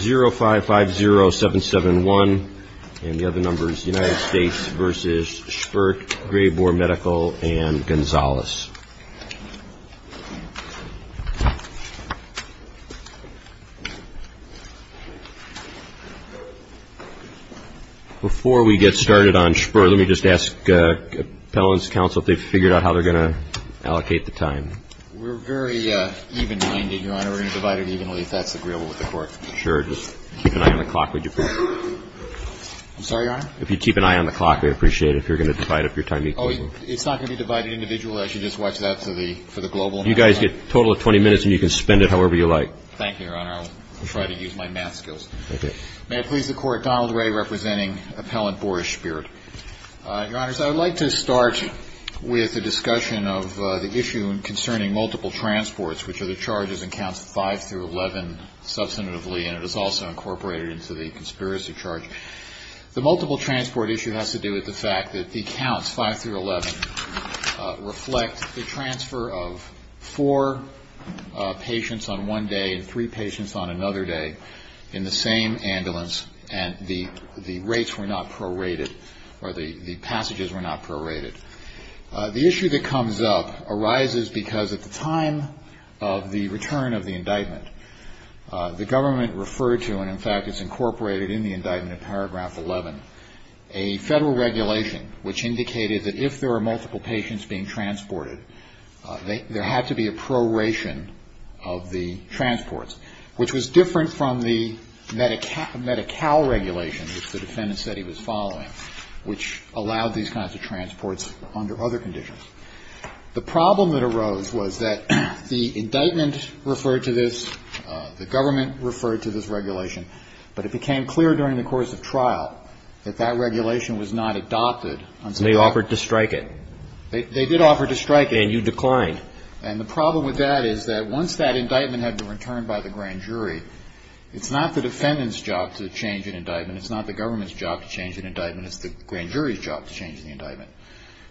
0550771 and the other numbers United States v. Shpirt, Grayboor Medical, and Gonzales. Before we get started on Shpirt, let me just ask appellant's counsel if they've figured out how they're going to allocate the time. We're very even-minded, Your Honor. We're going to divide it evenly if that's agreeable with the court. Sure. Just keep an eye on the clock, would you please? I'm sorry, Your Honor? If you keep an eye on the clock, we'd appreciate it if you're going to divide up your time equally. Oh, it's not going to be divided individually. I should just watch that for the global matter? You guys get a total of 20 minutes, and you can spend it however you like. Thank you, Your Honor. I'll try to use my math skills. Okay. May it please the Court, Donald Ray representing appellant Boris Shpirt. Your Honors, I would like to start with a discussion of the issue concerning multiple transports, which are the charges in counts 5 through 11, substantively, and it is also incorporated into the conspiracy charge. The multiple transport issue has to do with the fact that the counts, 5 through 11, reflect the transfer of four patients on one day and three patients on another day in the same The issue that comes up arises because at the time of the return of the indictment, the government referred to, and in fact it's incorporated in the indictment in paragraph 11, a federal regulation which indicated that if there were multiple patients being transported, there had to be a proration of the transports, which was different from the Medi-Cal regulation which the defendant said he was following, which allowed these kinds of transports under other conditions. The problem that arose was that the indictment referred to this, the government referred to this regulation, but it became clear during the course of trial that that regulation was not adopted until They offered to strike it. They did offer to strike it. And you declined. And the problem with that is that once that indictment had been returned by the grand jury, it's not the defendant's job to change an indictment, it's not the government's job to change an indictment, it's the grand jury's job to change the indictment.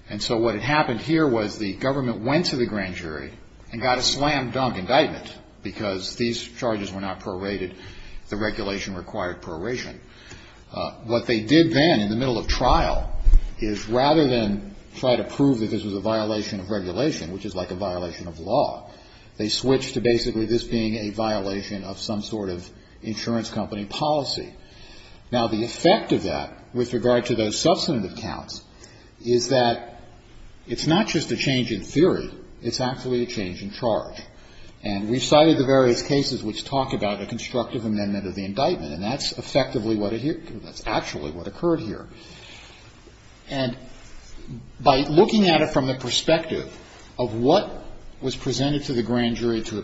And so what had happened here was the government went to the grand jury and got a slam dunk indictment because these charges were not prorated, the regulation required proration. What they did then in the middle of trial is rather than try to prove that this was a violation of regulation, which is like a violation of law, they switched to basically this being a violation of some sort of insurance company policy. Now the effect of that, with regard to those substantive counts, is that it's not just a change in theory, it's actually a change in charge. And we cited the various cases which talk about a constructive amendment of the indictment, and that's effectively what occurred here. And by looking at it from the perspective of what was presented to the grand jury to allow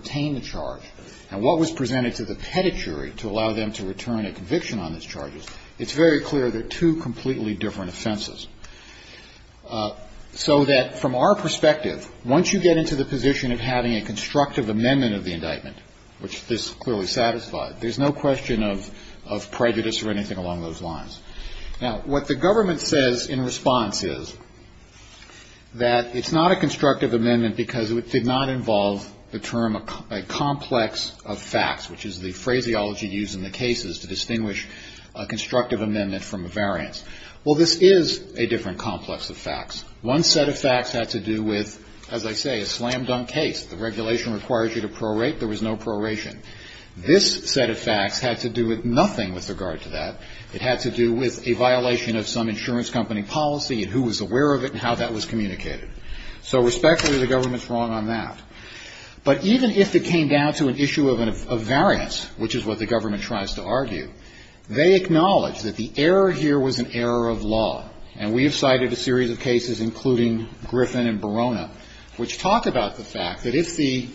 them to return a conviction on these charges, it's very clear they're two completely different offenses. So that from our perspective, once you get into the position of having a constructive amendment of the indictment, which this clearly satisfied, there's no question of prejudice or anything along those lines. Now what the government says in response is that it's not a constructive amendment because it did not involve the term a complex of facts, which is the phraseology used in the cases to distinguish a constructive amendment from a variance. Well this is a different complex of facts. One set of facts had to do with, as I say, a slam dunk case. The regulation requires you to prorate, there was no proration. This set of facts had to do with nothing with regard to that. It had to do with a violation of some insurance company policy and who was aware of it and how that was communicated. So respectfully, the government's wrong on that. But even if it came down to an issue of variance, which is what the government tries to argue, they acknowledge that the error here was an error of law, and we have cited a series of cases, including Griffin and Barona, which talk about the fact that if the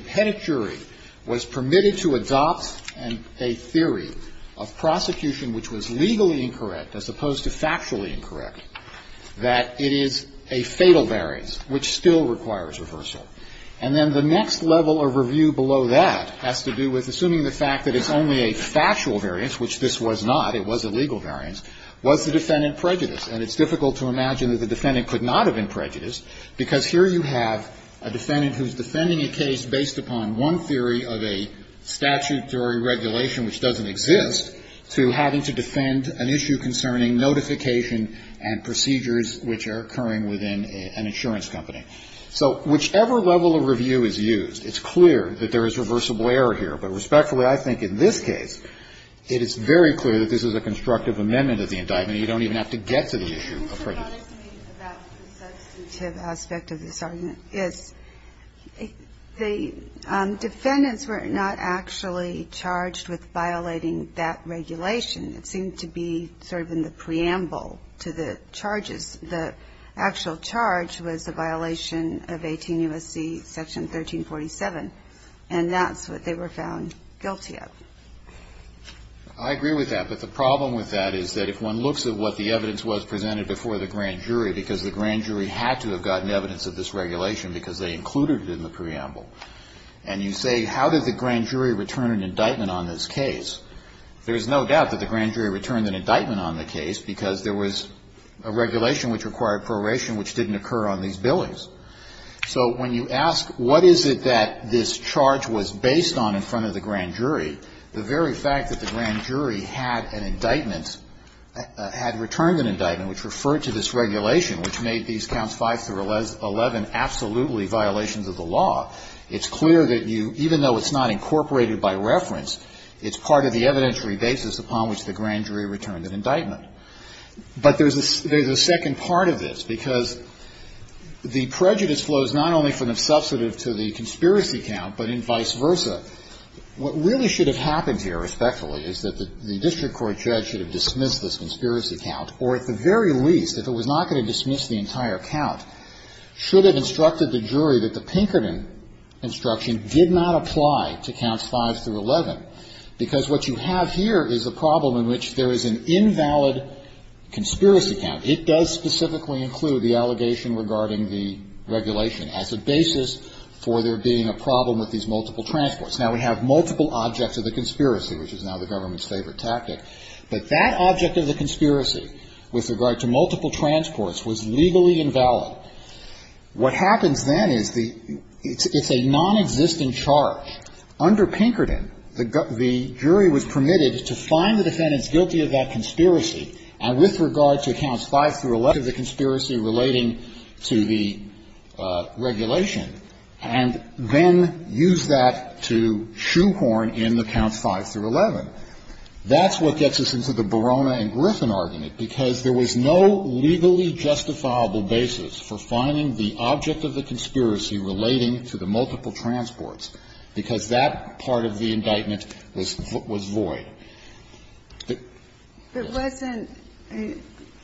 pettit jury was permitted to adopt a theory of prosecution which was legally incorrect as opposed to factually incorrect, that it is a fatal variance, which still requires reversal. And then the next level of review below that has to do with, assuming the fact that it's only a factual variance, which this was not, it was a legal variance, was the defendant prejudiced. And it's difficult to imagine that the defendant could not have been prejudiced because here you have a defendant who's defending a case based upon one theory of a statutory regulation which doesn't exist to having to defend an issue concerning notification and procedures which are occurring within an insurance company. So whichever level of review is used, it's clear that there is reversible error here. But respectfully, I think in this case, it is very clear that this is a constructive amendment of the indictment. You don't even have to get to the issue of prejudice. What I'd like to make about the substantive aspect of this argument is the defendants were not actually charged with violating that regulation. It seemed to be sort of in the preamble to the charges. The actual charge was the violation of 18 U.S.C. Section 1347. And that's what they were found guilty of. I agree with that. But the problem with that is that if one looks at what the evidence was presented before the grand jury, because the grand jury had to have gotten evidence of this regulation because they included it in the preamble, and you say how did the grand jury return an indictment on this case, there's no doubt that the grand jury returned an indictment on the case because there was a regulation which required proration which didn't occur on these billings. So when you ask what is it that this charge was based on in front of the grand jury, the very fact that the grand jury had an indictment, had returned an indictment which referred to this regulation which made these counts 5 through 11 absolutely violations of the law, it's clear that you, even though it's not incorporated by reference, it's part of the evidentiary basis upon which the grand jury returned an indictment. But there's a second part of this, because the prejudice flows not only from the substantive to the conspiracy count, but in vice versa. What really should have happened here, respectfully, is that the district court judge should have dismissed this conspiracy count, or at the very least, if it was not going to dismiss the entire count, should have instructed the jury that the Pinkerton instruction did not apply to counts 5 through 11, because what you have here is a problem in which there is an invalid conspiracy count. It does specifically include the allegation regarding the regulation as a basis for there being a problem with these multiple transports. Now, we have multiple objects of the conspiracy, which is now the government's favorite tactic, but that object of the conspiracy with regard to multiple transports was legally invalid. What happens then is the – it's a nonexistent charge. Under Pinkerton, the jury was permitted to find the defendant's guilty of that conspiracy and with regard to counts 5 through 11 of the conspiracy relating to the regulation and then use that to shoehorn in the counts 5 through 11. That's what gets us into the Barona and Griffin argument, because there was no legally justifiable basis for finding the object of the conspiracy relating to the multiple transports, because that part of the indictment was void. It wasn't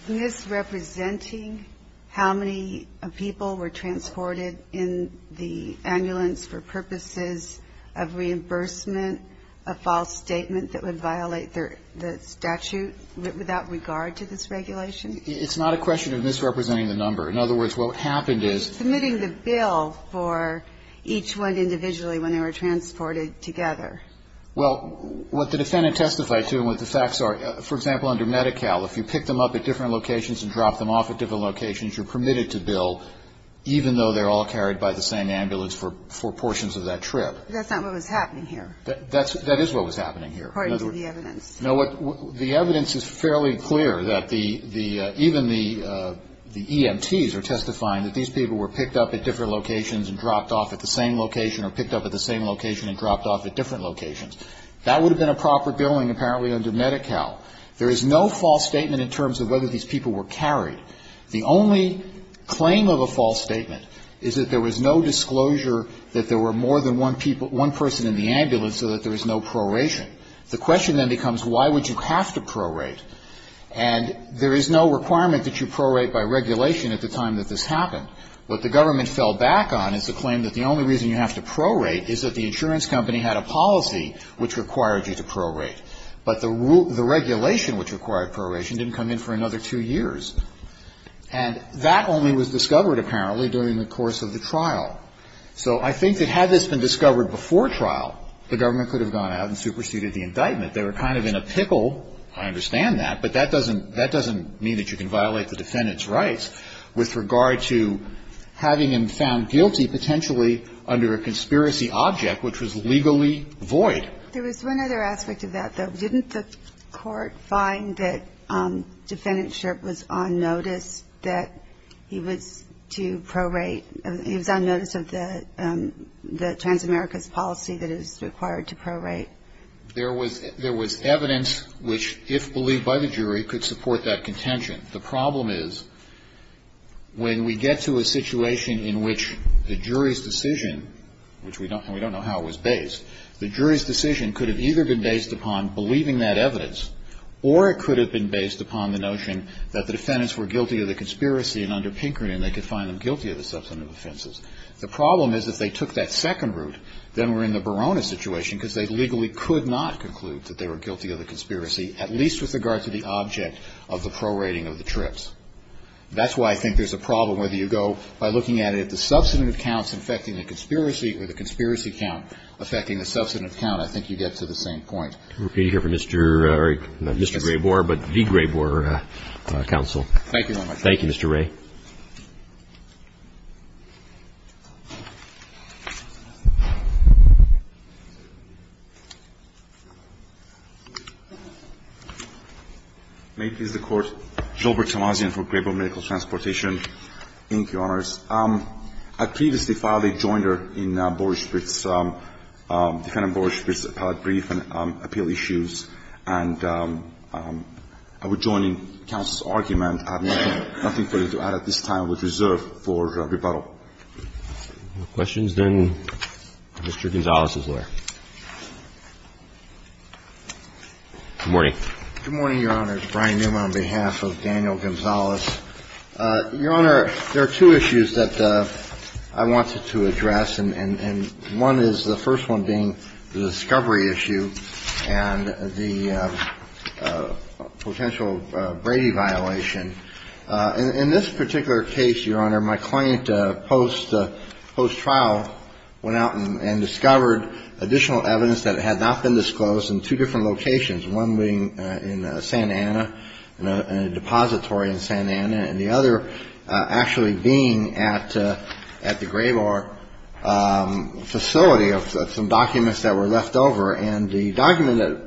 misrepresenting how many people were transported in the ambulance for that trip. It's not a question of misrepresenting the number. In other words, what happened is… They were submitting the bill for each one individually when they were transported together. Well, what the defendant testified to and what the facts are, for example, under Medi-Cal, if you pick them up at different locations and drop them off at different locations, you're permitted to bill even though they're all carried by the same ambulance for portions of that trip. That's not what was happening here. That is what was happening here. According to the evidence. No. The evidence is fairly clear that even the EMTs are testifying that these people were picked up at different locations and dropped off at the same location or picked up at the same location and dropped off at different locations. That would have been a proper billing apparently under Medi-Cal. There is no false statement in terms of whether these people were carried. The only claim of a false statement is that there was no disclosure that there were more than one person in the ambulance so that there was no proration. The question then becomes why would you have to prorate? And there is no requirement that you prorate by regulation at the time that this happened. What the government fell back on is the claim that the only reason you have to prorate is that the insurance company had a policy which required you to prorate. But the regulation which required proration didn't come in for another two years. And that only was discovered apparently during the course of the trial. So I think that had this been discovered before trial, the government could have gone out and superseded the indictment. They were kind of in a pickle. I understand that. But that doesn't mean that you can violate the defendant's rights with regard to having him found guilty potentially under a conspiracy object which was legally void. There was one other aspect of that though. Didn't the court find that Defendant Sherp was on notice that he was to prorate He was on notice of the Transamerica's policy that is required to prorate. There was evidence which if believed by the jury could support that contention. The problem is when we get to a situation in which the jury's decision, which we don't know how it was based, the jury's decision could have either been based upon believing that evidence or it could have been based upon the notion that the defendants were guilty of the conspiracy and under Pinkerton they could find them The problem is if they took that second route, then we're in the Barona situation because they legally could not conclude that they were guilty of the conspiracy at least with regard to the object of the prorating of the trips. That's why I think there's a problem whether you go by looking at it at the substantive counts affecting the conspiracy or the conspiracy count affecting the substantive count. I think you get to the same point. We're going to hear from Mr. Graybore, not Mr. Graybore, but the Graybore counsel. Thank you. Thank you, Mr. Ray. May it please the Court. Gilbert Tamazian for Graybore Medical Transportation. Thank you, Your Honors. I previously filed a joinder in Boris Spitz, defendant Boris Spitz's appellate case. I have a brief appeal issues and I would join in counsel's argument. I have nothing for you to add at this time. I would reserve for rebuttal. If there are no questions, then Mr. Gonzales is there. Good morning. Good morning, Your Honors. Brian Newman on behalf of Daniel Gonzales. Your Honor, there are two issues that I wanted to address and one is the first one being the discovery issue and the potential Brady violation. In this particular case, Your Honor, my client post-trial went out and discovered additional evidence that had not been disclosed in two different locations, one being in Santa Ana, in a depository in Santa Ana, and the other actually being at the Graybore facility of some documents that were left over. And the document,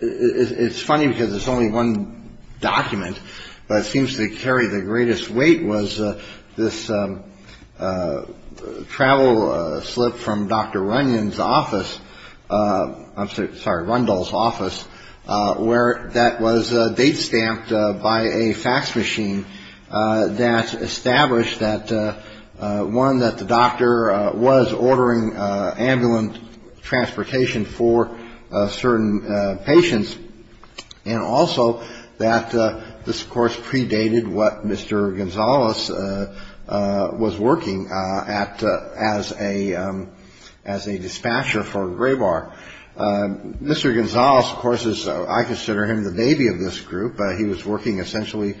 it's funny because it's only one document, but it seems to carry the greatest weight was this travel slip from Dr. Runyon's office, I'm sorry, Rundle's office, where that was date stamped by a fax machine that established that one that the doctor was ordering ambulance transportation for certain patients and also that this, of course, predated what Mr. Gonzales was working at as a dispatcher for Graybore. Mr. Gonzales, of course, I consider him the baby of this group. He was working essentially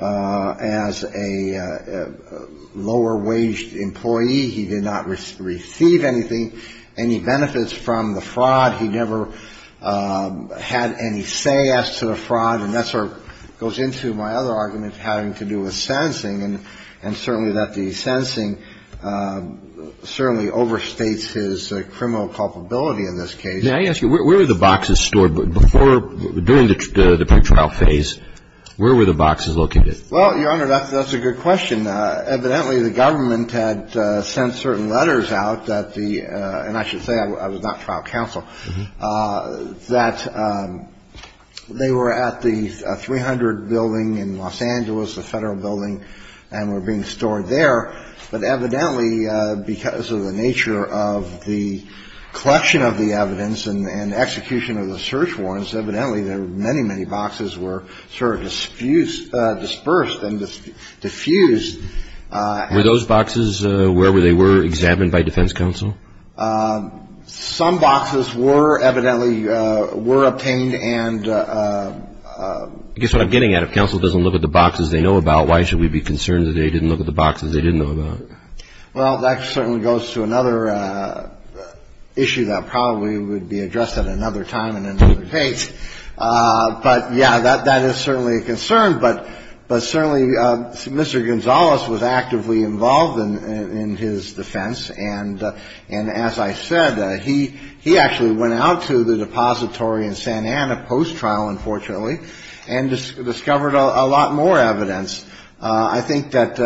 as a lower-wage employee. He did not receive anything, any benefits from the fraud. He never had any say as to the fraud. And that sort of goes into my other argument having to do with sentencing and certainly that the sentencing certainly overstates his criminal culpability in this case. May I ask you, where were the boxes stored? Before, during the pretrial phase, where were the boxes located? Well, Your Honor, that's a good question. Evidently, the government had sent certain letters out that the, and I should say I was not trial counsel, that they were at the 300 building in Los Angeles, the federal building, and were being stored there. But evidently, because of the nature of the collection of the evidence and execution of the search warrants, evidently there were many, many boxes were sort of dispersed and diffused. Were those boxes wherever they were examined by defense counsel? Some boxes were, evidently, were obtained and... I guess what I'm getting at, if counsel doesn't look at the boxes they know about, why should we be concerned that they didn't look at the boxes they didn't know about? Well, that certainly goes to another issue that probably would be addressed at another time in another case. But, yeah, that is certainly a concern. But certainly Mr. Gonzales was actively involved in his defense. And as I said, he actually went out to the depository in San Anna post-trial, unfortunately, and discovered a lot more evidence. I think that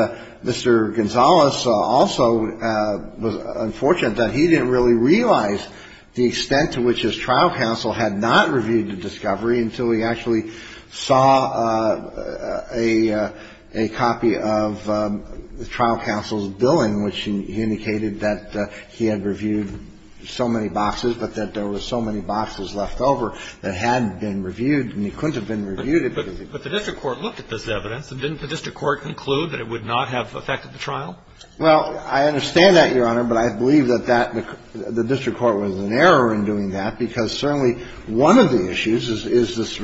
Mr. Gonzales also was unfortunate that he didn't really realize the extent to which his trial counsel had not reviewed the discovery until he actually saw a copy of the trial counsel's billing, which indicated that he had reviewed so many boxes, but that there were so many boxes left over that had been reviewed and he couldn't have been reviewed. But the district court looked at this evidence, and didn't the district court conclude that it would not have affected the trial? Well, I understand that, Your Honor, but I believe that the district court was in error in doing that, because certainly one of the issues is this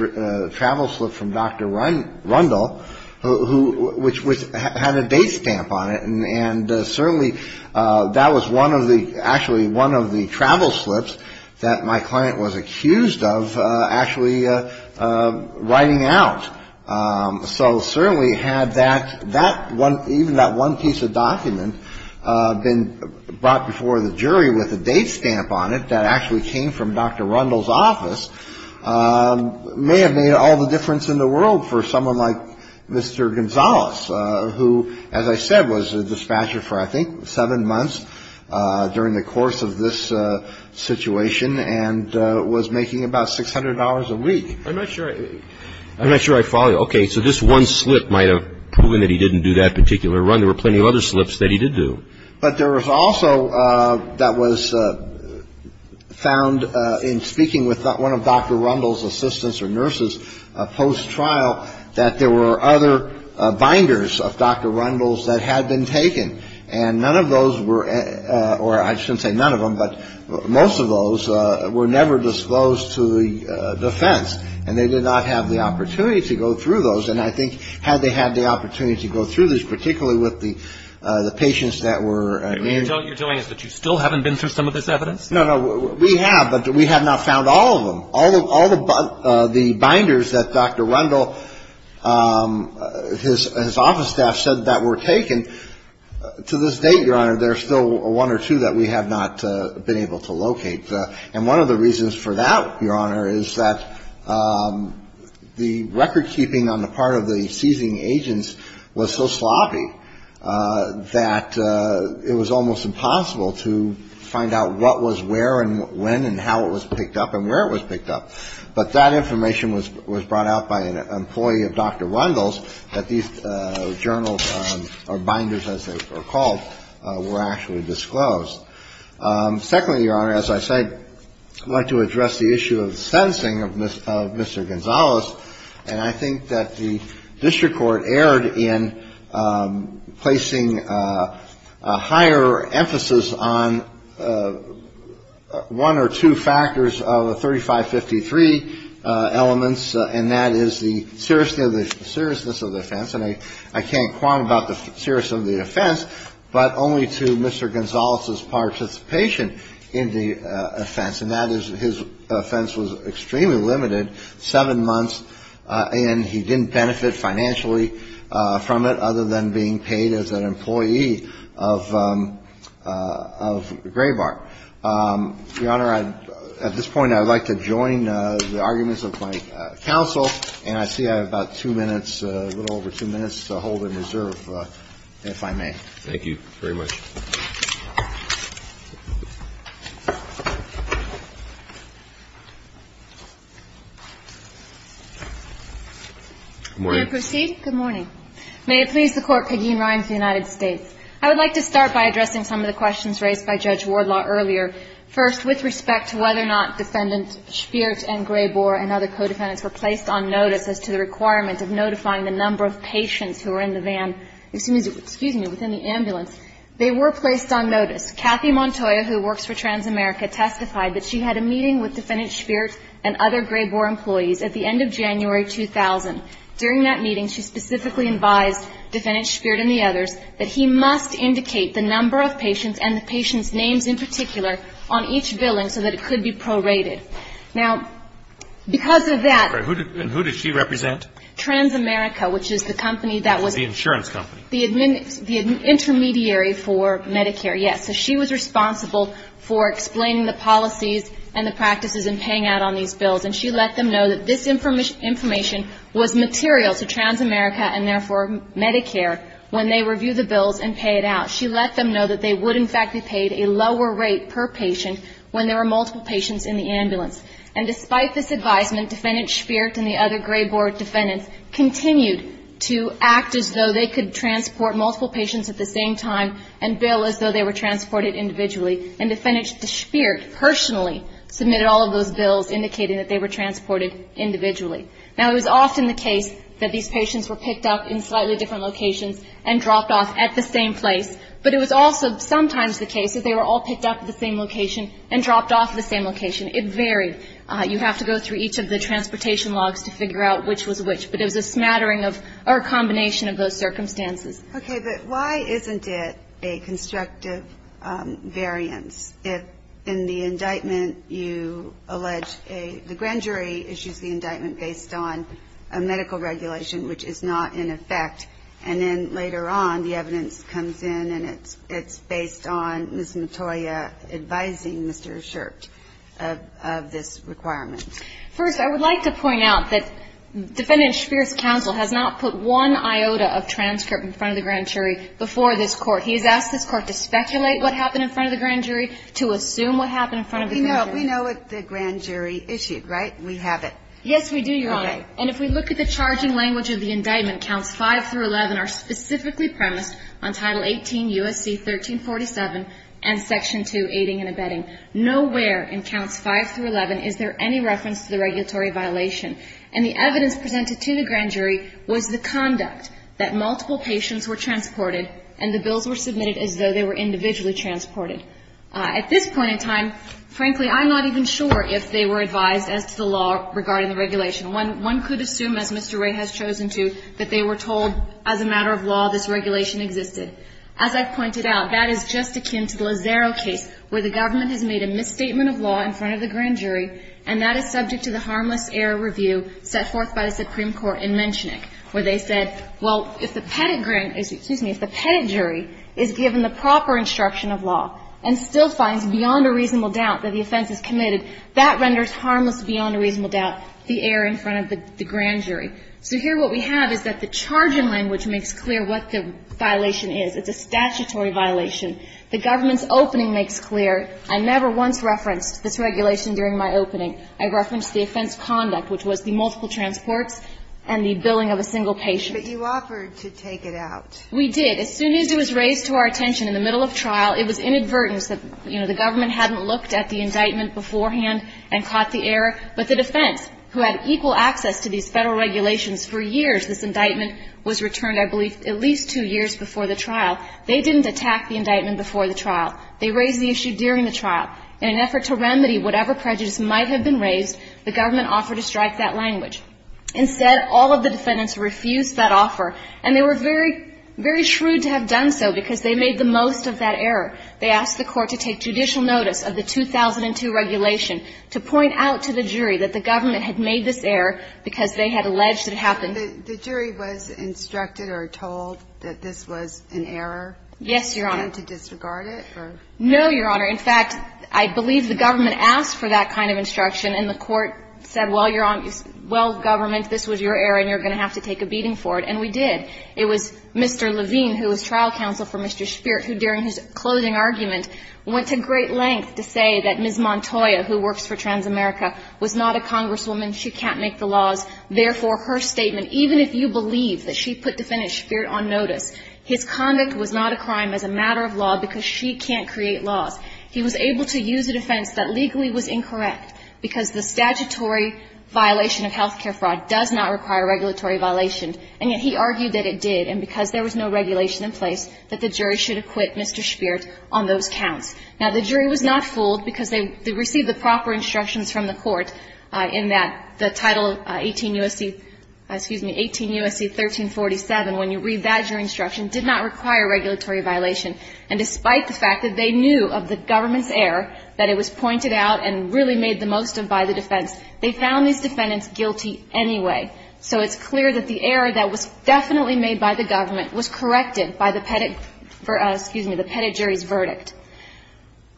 travel slip from Dr. Rundle, which had a date stamp on it. And certainly that was one of the, actually one of the travel slips that my client was accused of actually writing out. So certainly had that, even that one piece of document been brought before the jury with a date stamp on it that actually came from Dr. Rundle's office, may have made all the difference in the world for someone like Mr. Gonzales, who, as I said, was a dispatcher for, I think, seven months during the course of this situation, and was making about $600 a week. I'm not sure I follow you. Okay, so this one slip might have proven that he didn't do that particular run. There were plenty of other slips that he did do. But there was also that was found in speaking with one of Dr. Rundle's assistants or nurses post-trial that there were other binders of Dr. Rundle's that had been taken. And none of those were, or I shouldn't say none of them, but most of those were never disclosed to the defense. And they did not have the opportunity to go through those. And I think had they had the opportunity to go through those, particularly with the patients that were in. You're telling us that you still haven't been through some of this evidence? No, no. We have, but we have not found all of them. All the binders that Dr. Rundle, his office staff said that were taken, to this date, Your Honor, there are still one or two that we have not been able to locate. And one of the reasons for that, Your Honor, is that the record keeping on the part of the seizing agents was so sloppy that it was almost impossible to find out what was where and when and how it was picked up and where it was picked up. But that information was brought out by an employee of Dr. Rundle's that these journals, or binders as they were called, were actually disclosed. Secondly, Your Honor, as I said, I'd like to address the issue of the sentencing of Mr. Gonzales. And I think that the district court erred in placing a higher emphasis on one or two factors of the 3553 elements, and that is the seriousness of the offense. And I can't quantify the seriousness of the offense, but only to Mr. Gonzales' participation in the offense. And that is his offense was extremely limited, seven months, and he didn't benefit financially from it other than being paid as an employee of Graybar. Your Honor, at this point, I would like to join the arguments of my counsel, and I see I have about two minutes, a little over two minutes to hold and reserve, if I may. Thank you very much. Good morning. May I proceed? Good morning. May it please the Court, Peggy and Ryan for the United States. I would like to start by addressing some of the questions raised by Judge Wardlaw earlier. First, with respect to whether or not Defendant Spiert and Graybar and other co-defendants were placed on notice as to the requirement of notifying the number of patients who were in the van, excuse me, within the ambulance, they were placed on notice. Kathy Montoya, who works for Transamerica, testified that she had a meeting with Defendant Spiert and other Graybar employees at the end of January 2000. During that meeting, she specifically advised Defendant Spiert and the others that he must indicate the number of patients and the patients' names in particular on each billing so that it could be prorated. Now, because of that... And who did she represent? Transamerica, which is the company that was... The insurance company. The intermediary for Medicare, yes. So she was responsible for explaining the policies and the practices and paying out on these bills. And she let them know that this information was material to Transamerica and therefore Medicare when they reviewed the bills and paid out. She let them know that they would in fact be paid a lower rate per patient when there were multiple patients in the ambulance. And despite this advisement, Defendant Spiert and the other Graybar defendants continued to act as though they could transport multiple patients at the same time and bill as though they were transported individually. And Defendant Spiert personally submitted all of those bills indicating that they were transported individually. Now, it was often the case that these patients were picked up in slightly different locations and dropped off at the same place. But it was also sometimes the case that they were all picked up at the same location and dropped off at the same location. It varied. You have to go through each of the transportation logs to figure out which was which. But it was a smattering of or a combination of those circumstances. Okay. But why isn't it a constructive variance if in the indictment you allege the grand jury issues the indictment based on a medical regulation which is not in effect and then later on the evidence comes in and it's based on Ms. Matoya advising Mr. Schert of this requirement? First, I would like to point out that Defendant Spiert's counsel has not put one iota of transcript in front of the grand jury before this court. He has asked this court to speculate what happened in front of the grand jury to assume what happened in front of the grand jury. We know what the grand jury issued, right? We have it. Yes, we do, Your Honor. And if we look at the charging language of the indictment, counts 5 through 11 are specifically premised on Title 18 U.S.C. 1347 and Section 2, aiding and abetting. Nowhere in counts 5 through 11 is there any reference to the regulatory violation. And the evidence presented to the grand jury was the conduct that multiple patients were transported and the bills were submitted as though they were individually transported. At this point in time, frankly, I'm not even sure if they were advised as to the law regarding the regulation. One could assume, as Mr. Wray has chosen to, that they were told as a matter of law this regulation existed. As I've pointed out, that is just akin to the Lazaro case where the government has made a misstatement of law in front of the grand jury and that is subject to the harmless error review set forth by the Supreme Court in Menchenik, where they said, well, if the pedigree – excuse me – if the pedigree is given the proper instruction of law and still finds beyond a reasonable doubt that the offense is committed, that renders harmless beyond a reasonable doubt the error in front of the grand jury. So here what we have is that the charge in language makes clear what the violation is. It's a statutory violation. The government's opening makes clear I never once referenced this regulation during my opening. I referenced the offense conduct, which was the multiple transports and the billing of a single patient. But you offered to take it out. We did. it was inadvertent that, you know, the government hadn't looked at the indictment beforehand and caught the error. But the defense, who had equal access to these federal regulations for years, this indictment was returned, I believe, at least two years before the trial. They didn't attack the indictment before the trial. They raised the issue during the trial. In an effort to remedy whatever prejudice might have been raised, the government offered to strike that language. Instead, all of the defendants refused that offer and they were very, very shrewd to have done so because they made the most of that error. They asked the court to take judicial notice of the 2002 regulation to point out to the jury that the government had made this error because they had alleged it happened. The jury was instructed or told that this was an error? Yes, Your Honor. And to disregard it? No, Your Honor. In fact, I believe the government asked for that kind of instruction and the court said, Well, Your Honor, well, government, this was your error and you're going to have to take a beating for it. And we did. It was Mr. Levine, who was trial counsel for Mr. Spirit, who during his closing argument went to great length to say that Ms. Montoya, who works for Transamerica, was not a congresswoman. She can't make the laws. Therefore, her statement, even if you believe that she put defendant Spirit on notice, his conduct was not a crime as a matter of law because she can't create laws. He was able to use a defense that legally was incorrect because the statutory violation of health care fraud does not require regulatory violation and yet he argued that it did and because there was no regulation in place that the jury should acquit Mr. Spirit on those counts. Now, the jury was not fooled because they received the proper instructions from the court in that the title 18 U.S.C., excuse me, 18 U.S.C. 1347, when you read that jury instruction, did not require regulatory violation and despite the fact that they knew of the government's error, that it was pointed out and really made the most of by the defense, they found these defendants guilty anyway. So it's clear that the error that was definitely made by the government was corrected by the Pettit, excuse me, the Pettit jury's verdict.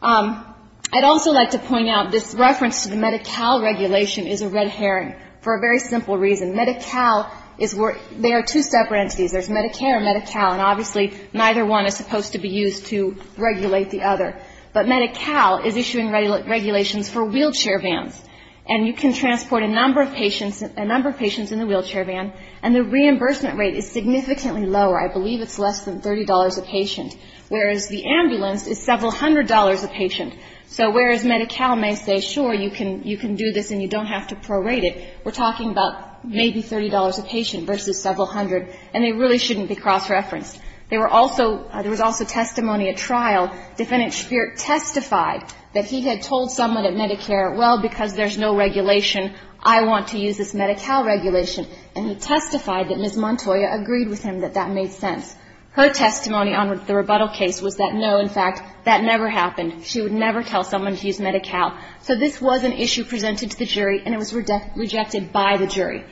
I'd also like to point out this reference to the Medi-Cal regulation is a red herring for a very simple reason. Medi-Cal is where there are two separate entities. There's Medicare and Medi-Cal and obviously neither one is supposed to be used to regulate the other. But Medi-Cal is issuing regulations for wheelchair vans and you can transport a number of patients, a number of patients in the wheelchair van and the reimbursement rate is significantly lower. I believe it's less than $30 a patient, whereas the ambulance is several hundred dollars a patient. So whereas Medi-Cal may say, sure, you can do this and you don't have to prorate it, we're talking about maybe $30 a patient versus several hundred and they really shouldn't be cross-referenced. There were also, there was also testimony at trial. Defendant Speer testified that he had told someone at Medicare, well, because there's no regulation, I want to use this Medi-Cal regulation and he testified that Ms. Montoya agreed with him and that that made sense. Her testimony on the rebuttal case was that no, in fact, that never happened. She would never tell someone to use Medi-Cal. So this was an issue presented to the jury and it was rejected by the jury.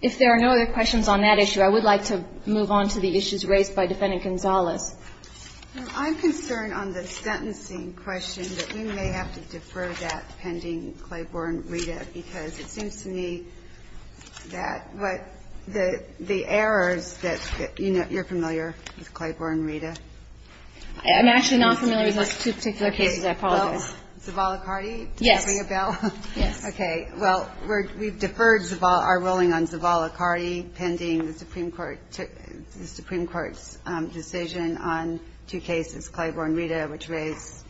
If there are no other questions on that issue, I would like to move on to the issues raised by Defendant Gonzalez. I'm concerned on the sentencing question that we may have to defer that pending Claiborne readout because it seems to me that what, the errors that, you know, you're familiar with Claiborne readout. I'm actually not familiar with those two particular cases. I apologize. Zavala-Cardi? Yes. Okay. Well, we've deferred our ruling on Zavala-Cardi pending the Supreme Court's decision on two cases, Claiborne readout, which raised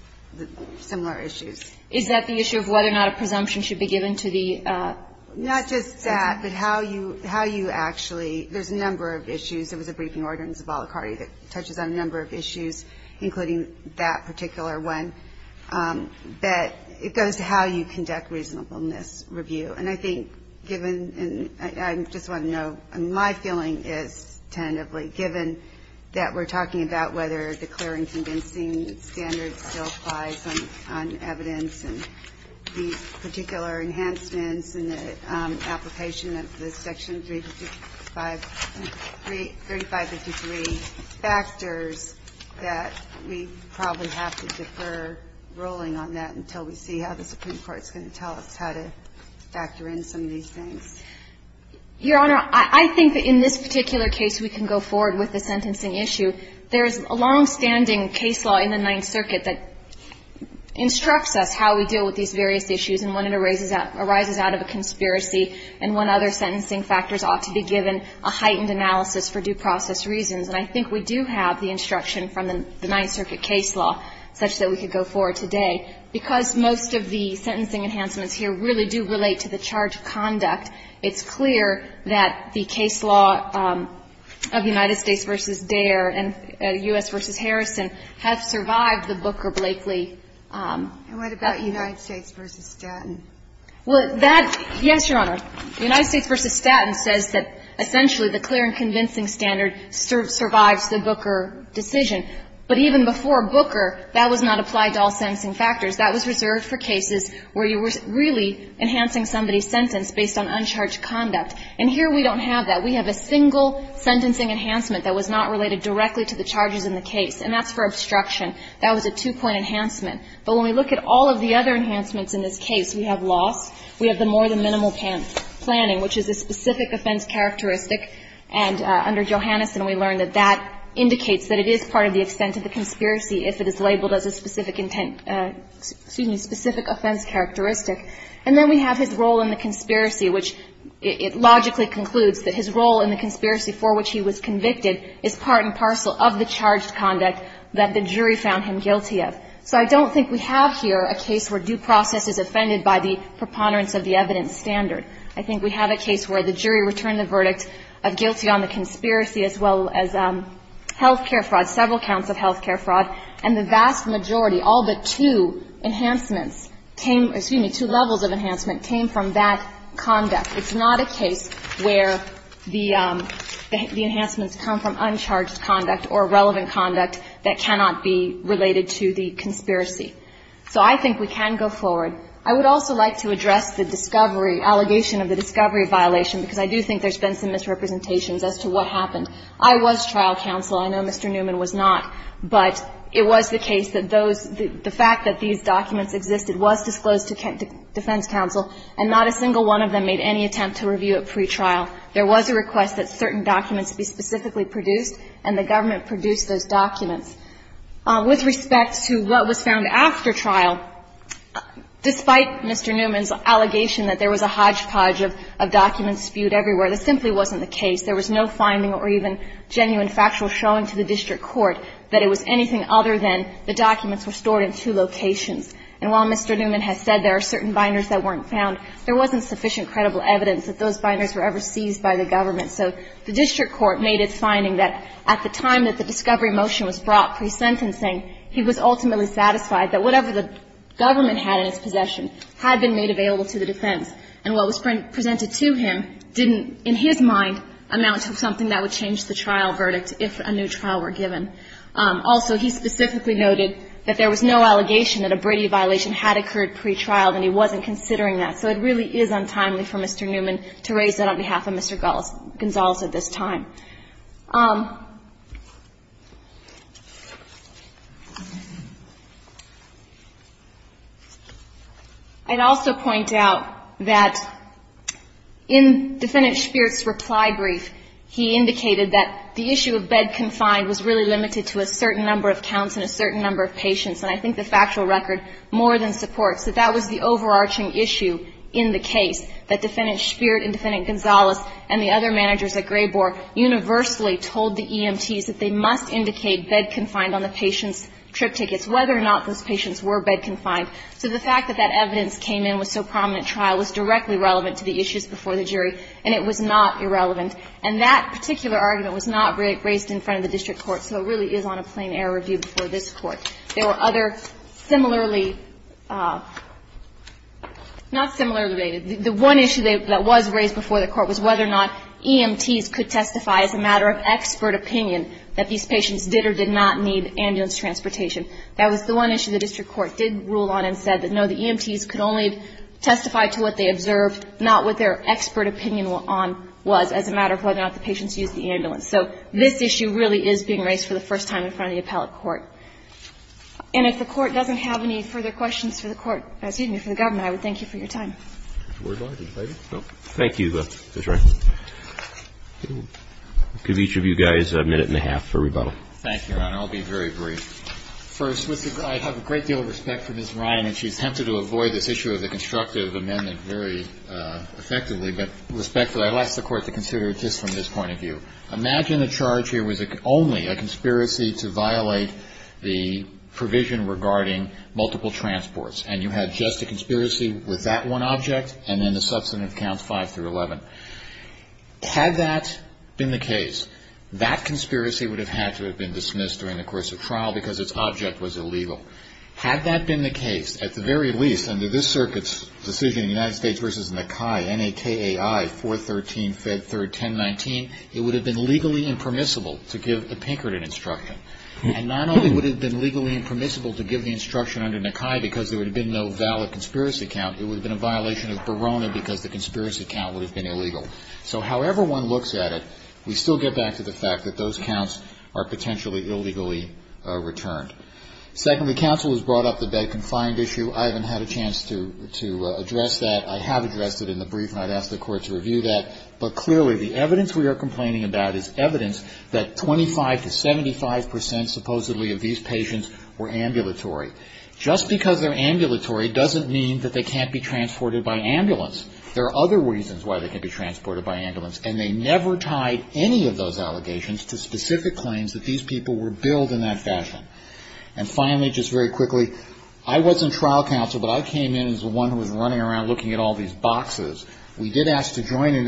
similar issues. Is that the issue of whether or not presumption should be given to the sentencing? Not just that, but how you actually, there's a number of issues. There was a briefing order in Zavala-Cardi that touches on a number of issues, including that particular one. But it goes to how you conduct reasonableness review. And I think, given, and I just want to know, my feeling is tentatively, given that we're talking about whether declaring convincing standards still applies on evidence and these particular enhancements and the application of the Section 3553 factors that we probably have to defer ruling on that until we see how the Supreme Court's going to tell us how to factor in some of these things. Your Honor, I think that in this particular case we can go forward with the sentencing issue. There is a longstanding case law in the Ninth Circuit that instructs us how we deal with these various issues and when it arises out of a conspiracy and when other sentencing factors ought to be given a heightened analysis for due process reasons. And I think we do have the instruction from the Ninth Circuit case law such that we could go forward today. Because most of the sentencing enhancements here really do relate to the charge of conduct, it's clear that the case law of United States v. Dare and U.S. v. Harrison have survived the Booker-Blakely. And what about United States v. Statton? Well, that, yes, Your Honor. United States v. Statton says that essentially the clear and convincing standard survives the Booker decision. But even before Booker, that was not applied to all sentencing factors. That was reserved for cases where you were really enhancing somebody's sentence based on uncharged conduct. And here we don't have that. We have a single sentencing enhancement that was not related directly to the charges in the case. And that's for obstruction. That was a two-point enhancement. But when we look at all of the other enhancements in this case, we have loss, we have the more than minimal planning, which is a specific offense characteristic. And under Johanneson, we learned that that indicates that it is part of the extent of the conspiracy if it is labeled as a specific intent, excuse me, specific offense characteristic. And then we have his role in the conspiracy, which it logically concludes that his role in the conspiracy for which he was convicted is part and parcel of the charged conduct that the jury found him guilty of. So I don't think we have here a case where due process is offended by the preponderance of the evidence standard. I think we have a case where the jury returned the verdict of guilty on the conspiracy as well as health care fraud, several counts of health care fraud, and the vast majority, all but two enhancements came, excuse me, two levels of enhancement came from that conduct. It's not a case where the enhancements come from uncharged conduct or relevant conduct that cannot be related to the conspiracy. So I think we can go forward. I would also like to address the discovery, allegation of the discovery violation because I do think there's been some misrepresentations as to what happened. I was trial counsel. I know Mr. Newman was not, but it was the case that those, the fact that these documents existed was disclosed to defense counsel and not a single one of them made any attempt to review it pretrial. There was a request that certain documents be specifically produced and the government produced those documents. With respect to what was found after trial, despite Mr. Newman's allegation that there was a hodgepodge of documents spewed everywhere, this simply wasn't the case. There was no finding or even genuine factual showing to the district court that it was anything other than the documents were stored in two locations. And while Mr. Newman has said there are certain binders that weren't found, there wasn't sufficient credible evidence that those binders were ever seized by the government. So the district court made its finding that at the time that the discovery motion was brought pre-sentencing, he was ultimately satisfied that whatever the government had in its possession had been made available to the defense. And what was presented to him didn't, in his mind, amount to something that would change the trial verdict if a new trial were given. Also, he specifically noted that there was no allegation that a Brady violation had occurred pretrial and he wasn't considering that. So it really is untimely for Mr. Newman to raise that on behalf of Mr. Gonzales at this time. I'd also point out that in Defendant Spirit's reply brief he indicated that the issue of bed confined was really limited to a certain number of counts and a certain number of patients and I think the factual record more than supports that that was the overarching issue in the case that Defendant Spirit and Defendant Gonzales and the other managers at Graybore universally told the EMTs that they must indicate bed confined on the patient's trip tickets whether or not those patients were bed confined. So the fact that that evidence came in with so prominent trial was directly relevant to the issues before the jury and it was not irrelevant and that particular argument was not raised in front of the district court so it really is on a plain air review before this court. There were other similarly not similarly the one issue that was raised before the court was whether or not EMTs could testify as a matter of expert opinion that these patients did or did not need ambulance transportation. That was the one issue the district court did rule on and said that no the EMTs could only testify to what they observed not what their was as a matter of whether or not the patients used the ambulance so this issue really is being raised for the first time in front of the appellate court. And if the court doesn't have any further questions for the court excuse me for the government I would thank you for your time. Thank you Ms. Ryan. I'll give each of you guys a minute and a half for rebuttal. Thank you Your Honor I'll be very brief. First I have a great deal of respect for Ms. Ryan and she attempted to avoid this issue of the constructive amendment very effectively but respectfully I'd like the court to consider it just from this point of view. Imagine a charge here was only a conspiracy to violate the provision regarding multiple transports and you had just a conspiracy with that one object and then the substantive counts five through eleven. Had that been the case that conspiracy would have had to have been dismissed during the course of trial because its object was illegal. Had that been the case at the very least under this circuit's decision United States versus NAKAI 413 Fed 3rd 1019 it would have been legally impermissible to give the Pinkerton instruction and not only would it have been legally impermissible to give the instruction under NAKAI because there would have been no valid conspiracy count it would have been a violation of Barona because the conspiracy count would have been illegal. So however one looks at it we still get back to the fact that those counts are potentially illegally returned. Secondly, counsel has brought up the bed confined issue. I haven't had a chance to address that. I have addressed it in the brief and I've asked the court to review that. But clearly the evidence we are complaining about is evidence that 25 to 75 percent supposedly of these patients were ambulatory. Just because they're ambulatory doesn't mean they can't be transported by ambulance. There are other reasons why they can be transported by ambulance and they never tied any of those allegations to specific claims that these people were billed in that fashion. And finally just very quickly I wasn't trial counsel but I came in as the one who was running around looking at all these boxes. We did ask to join in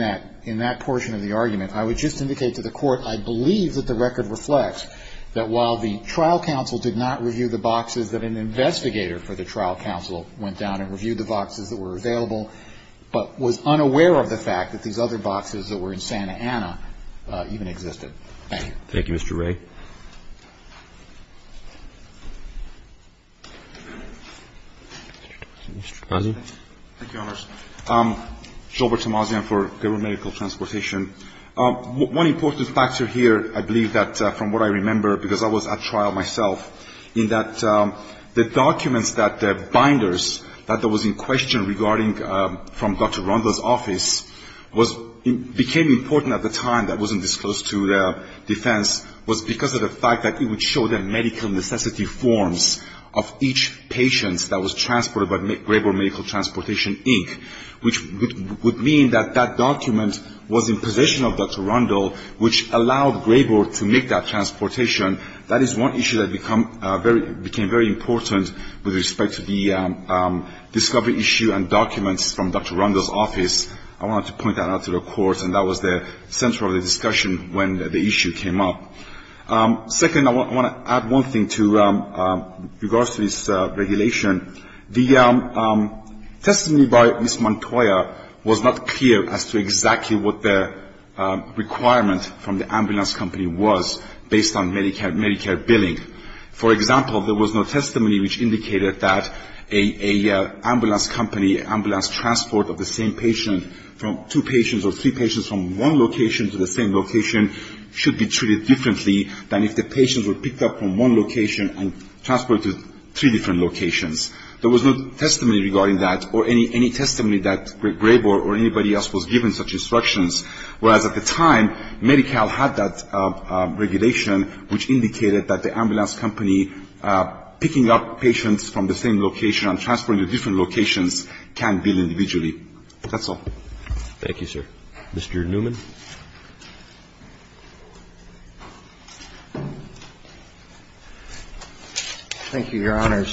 that portion of the argument. I would just indicate to the court I believe that the record reflects that while the trial counsel did not review the boxes that an investigator for the trial counsel went down and reviewed the boxes that were available but was unaware of the fact that these boxes not available for investigation. One important factor here I believe that from what I remember because I was at trial myself in that the documents that binders that was in question regarding from Dr. Rondo's office became very important at the time that wasn't disclosed to the defense was because of the fact that it would show the medical necessity forms of each patient that was transported by Dr. Rondo which allowed Grayboard to make that transportation that is one issue that became very important with respect to the discovery issue and documents from Dr. Rondo's office. I want to point out Dr. Rondo's office was not clear as to exactly what the requirement from the ambulance company was based on Medicare billing. For example there was no testimony which indicated that a ambulance company ambulance transport of the same patient from two patients or three patients from one location to the same location should be treated differently than if the patients were from the other location. And that's why the obligation on transferring to different locations can be individually. That's all. Thank you, sir. Mr. Newman. Thank you, Your Honor.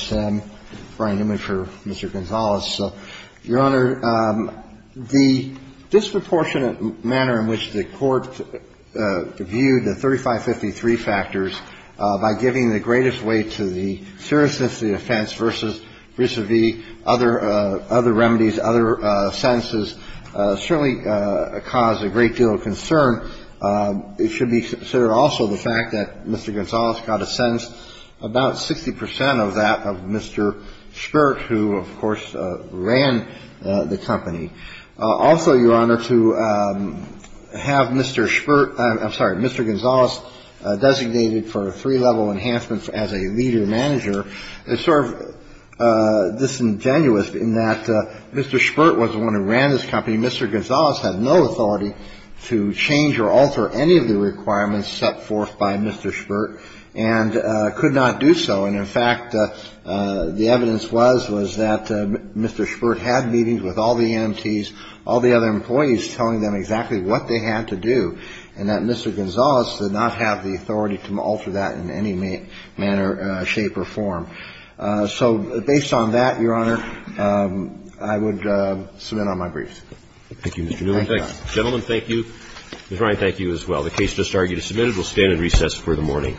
Brian Newman for Mr. Gonzales. Your Honor, the disproportionate manner in which the Court viewed the 3553 factors by giving the greatest weight to the seriousness of the offense versus vis-à-vis other remedies, other sentences certainly caused a great deal of concern. It should be considered also the fact that Mr. Gonzales got a sentence about 60 percent of that of Mr. Schpert, who, of course, ran the company. Also, Your Honor, to have Mr. Schpert I'm sorry, Mr. Gonzales designated for three-level enhancements as a leader manager is sort of disingenuous in that Mr. Schpert was the one who ran this company. Mr. Gonzales had no authority to change or alter any of the requirements set forth by Mr. Schpert. The evidence was that Mr. Schpert had meetings with all the EMTs, all the other employees, telling them exactly what they had to do, and that Mr. Gonzales did not have the authority to alter that in any manner, shape, or form. So, based on that, Your Honor, I would submit on my briefs. Thank you, Mr. Newman. Gentlemen, thank you. Ms. Ryan, thank you as well. The case just argued is submitted. We'll stand in recess for the morning.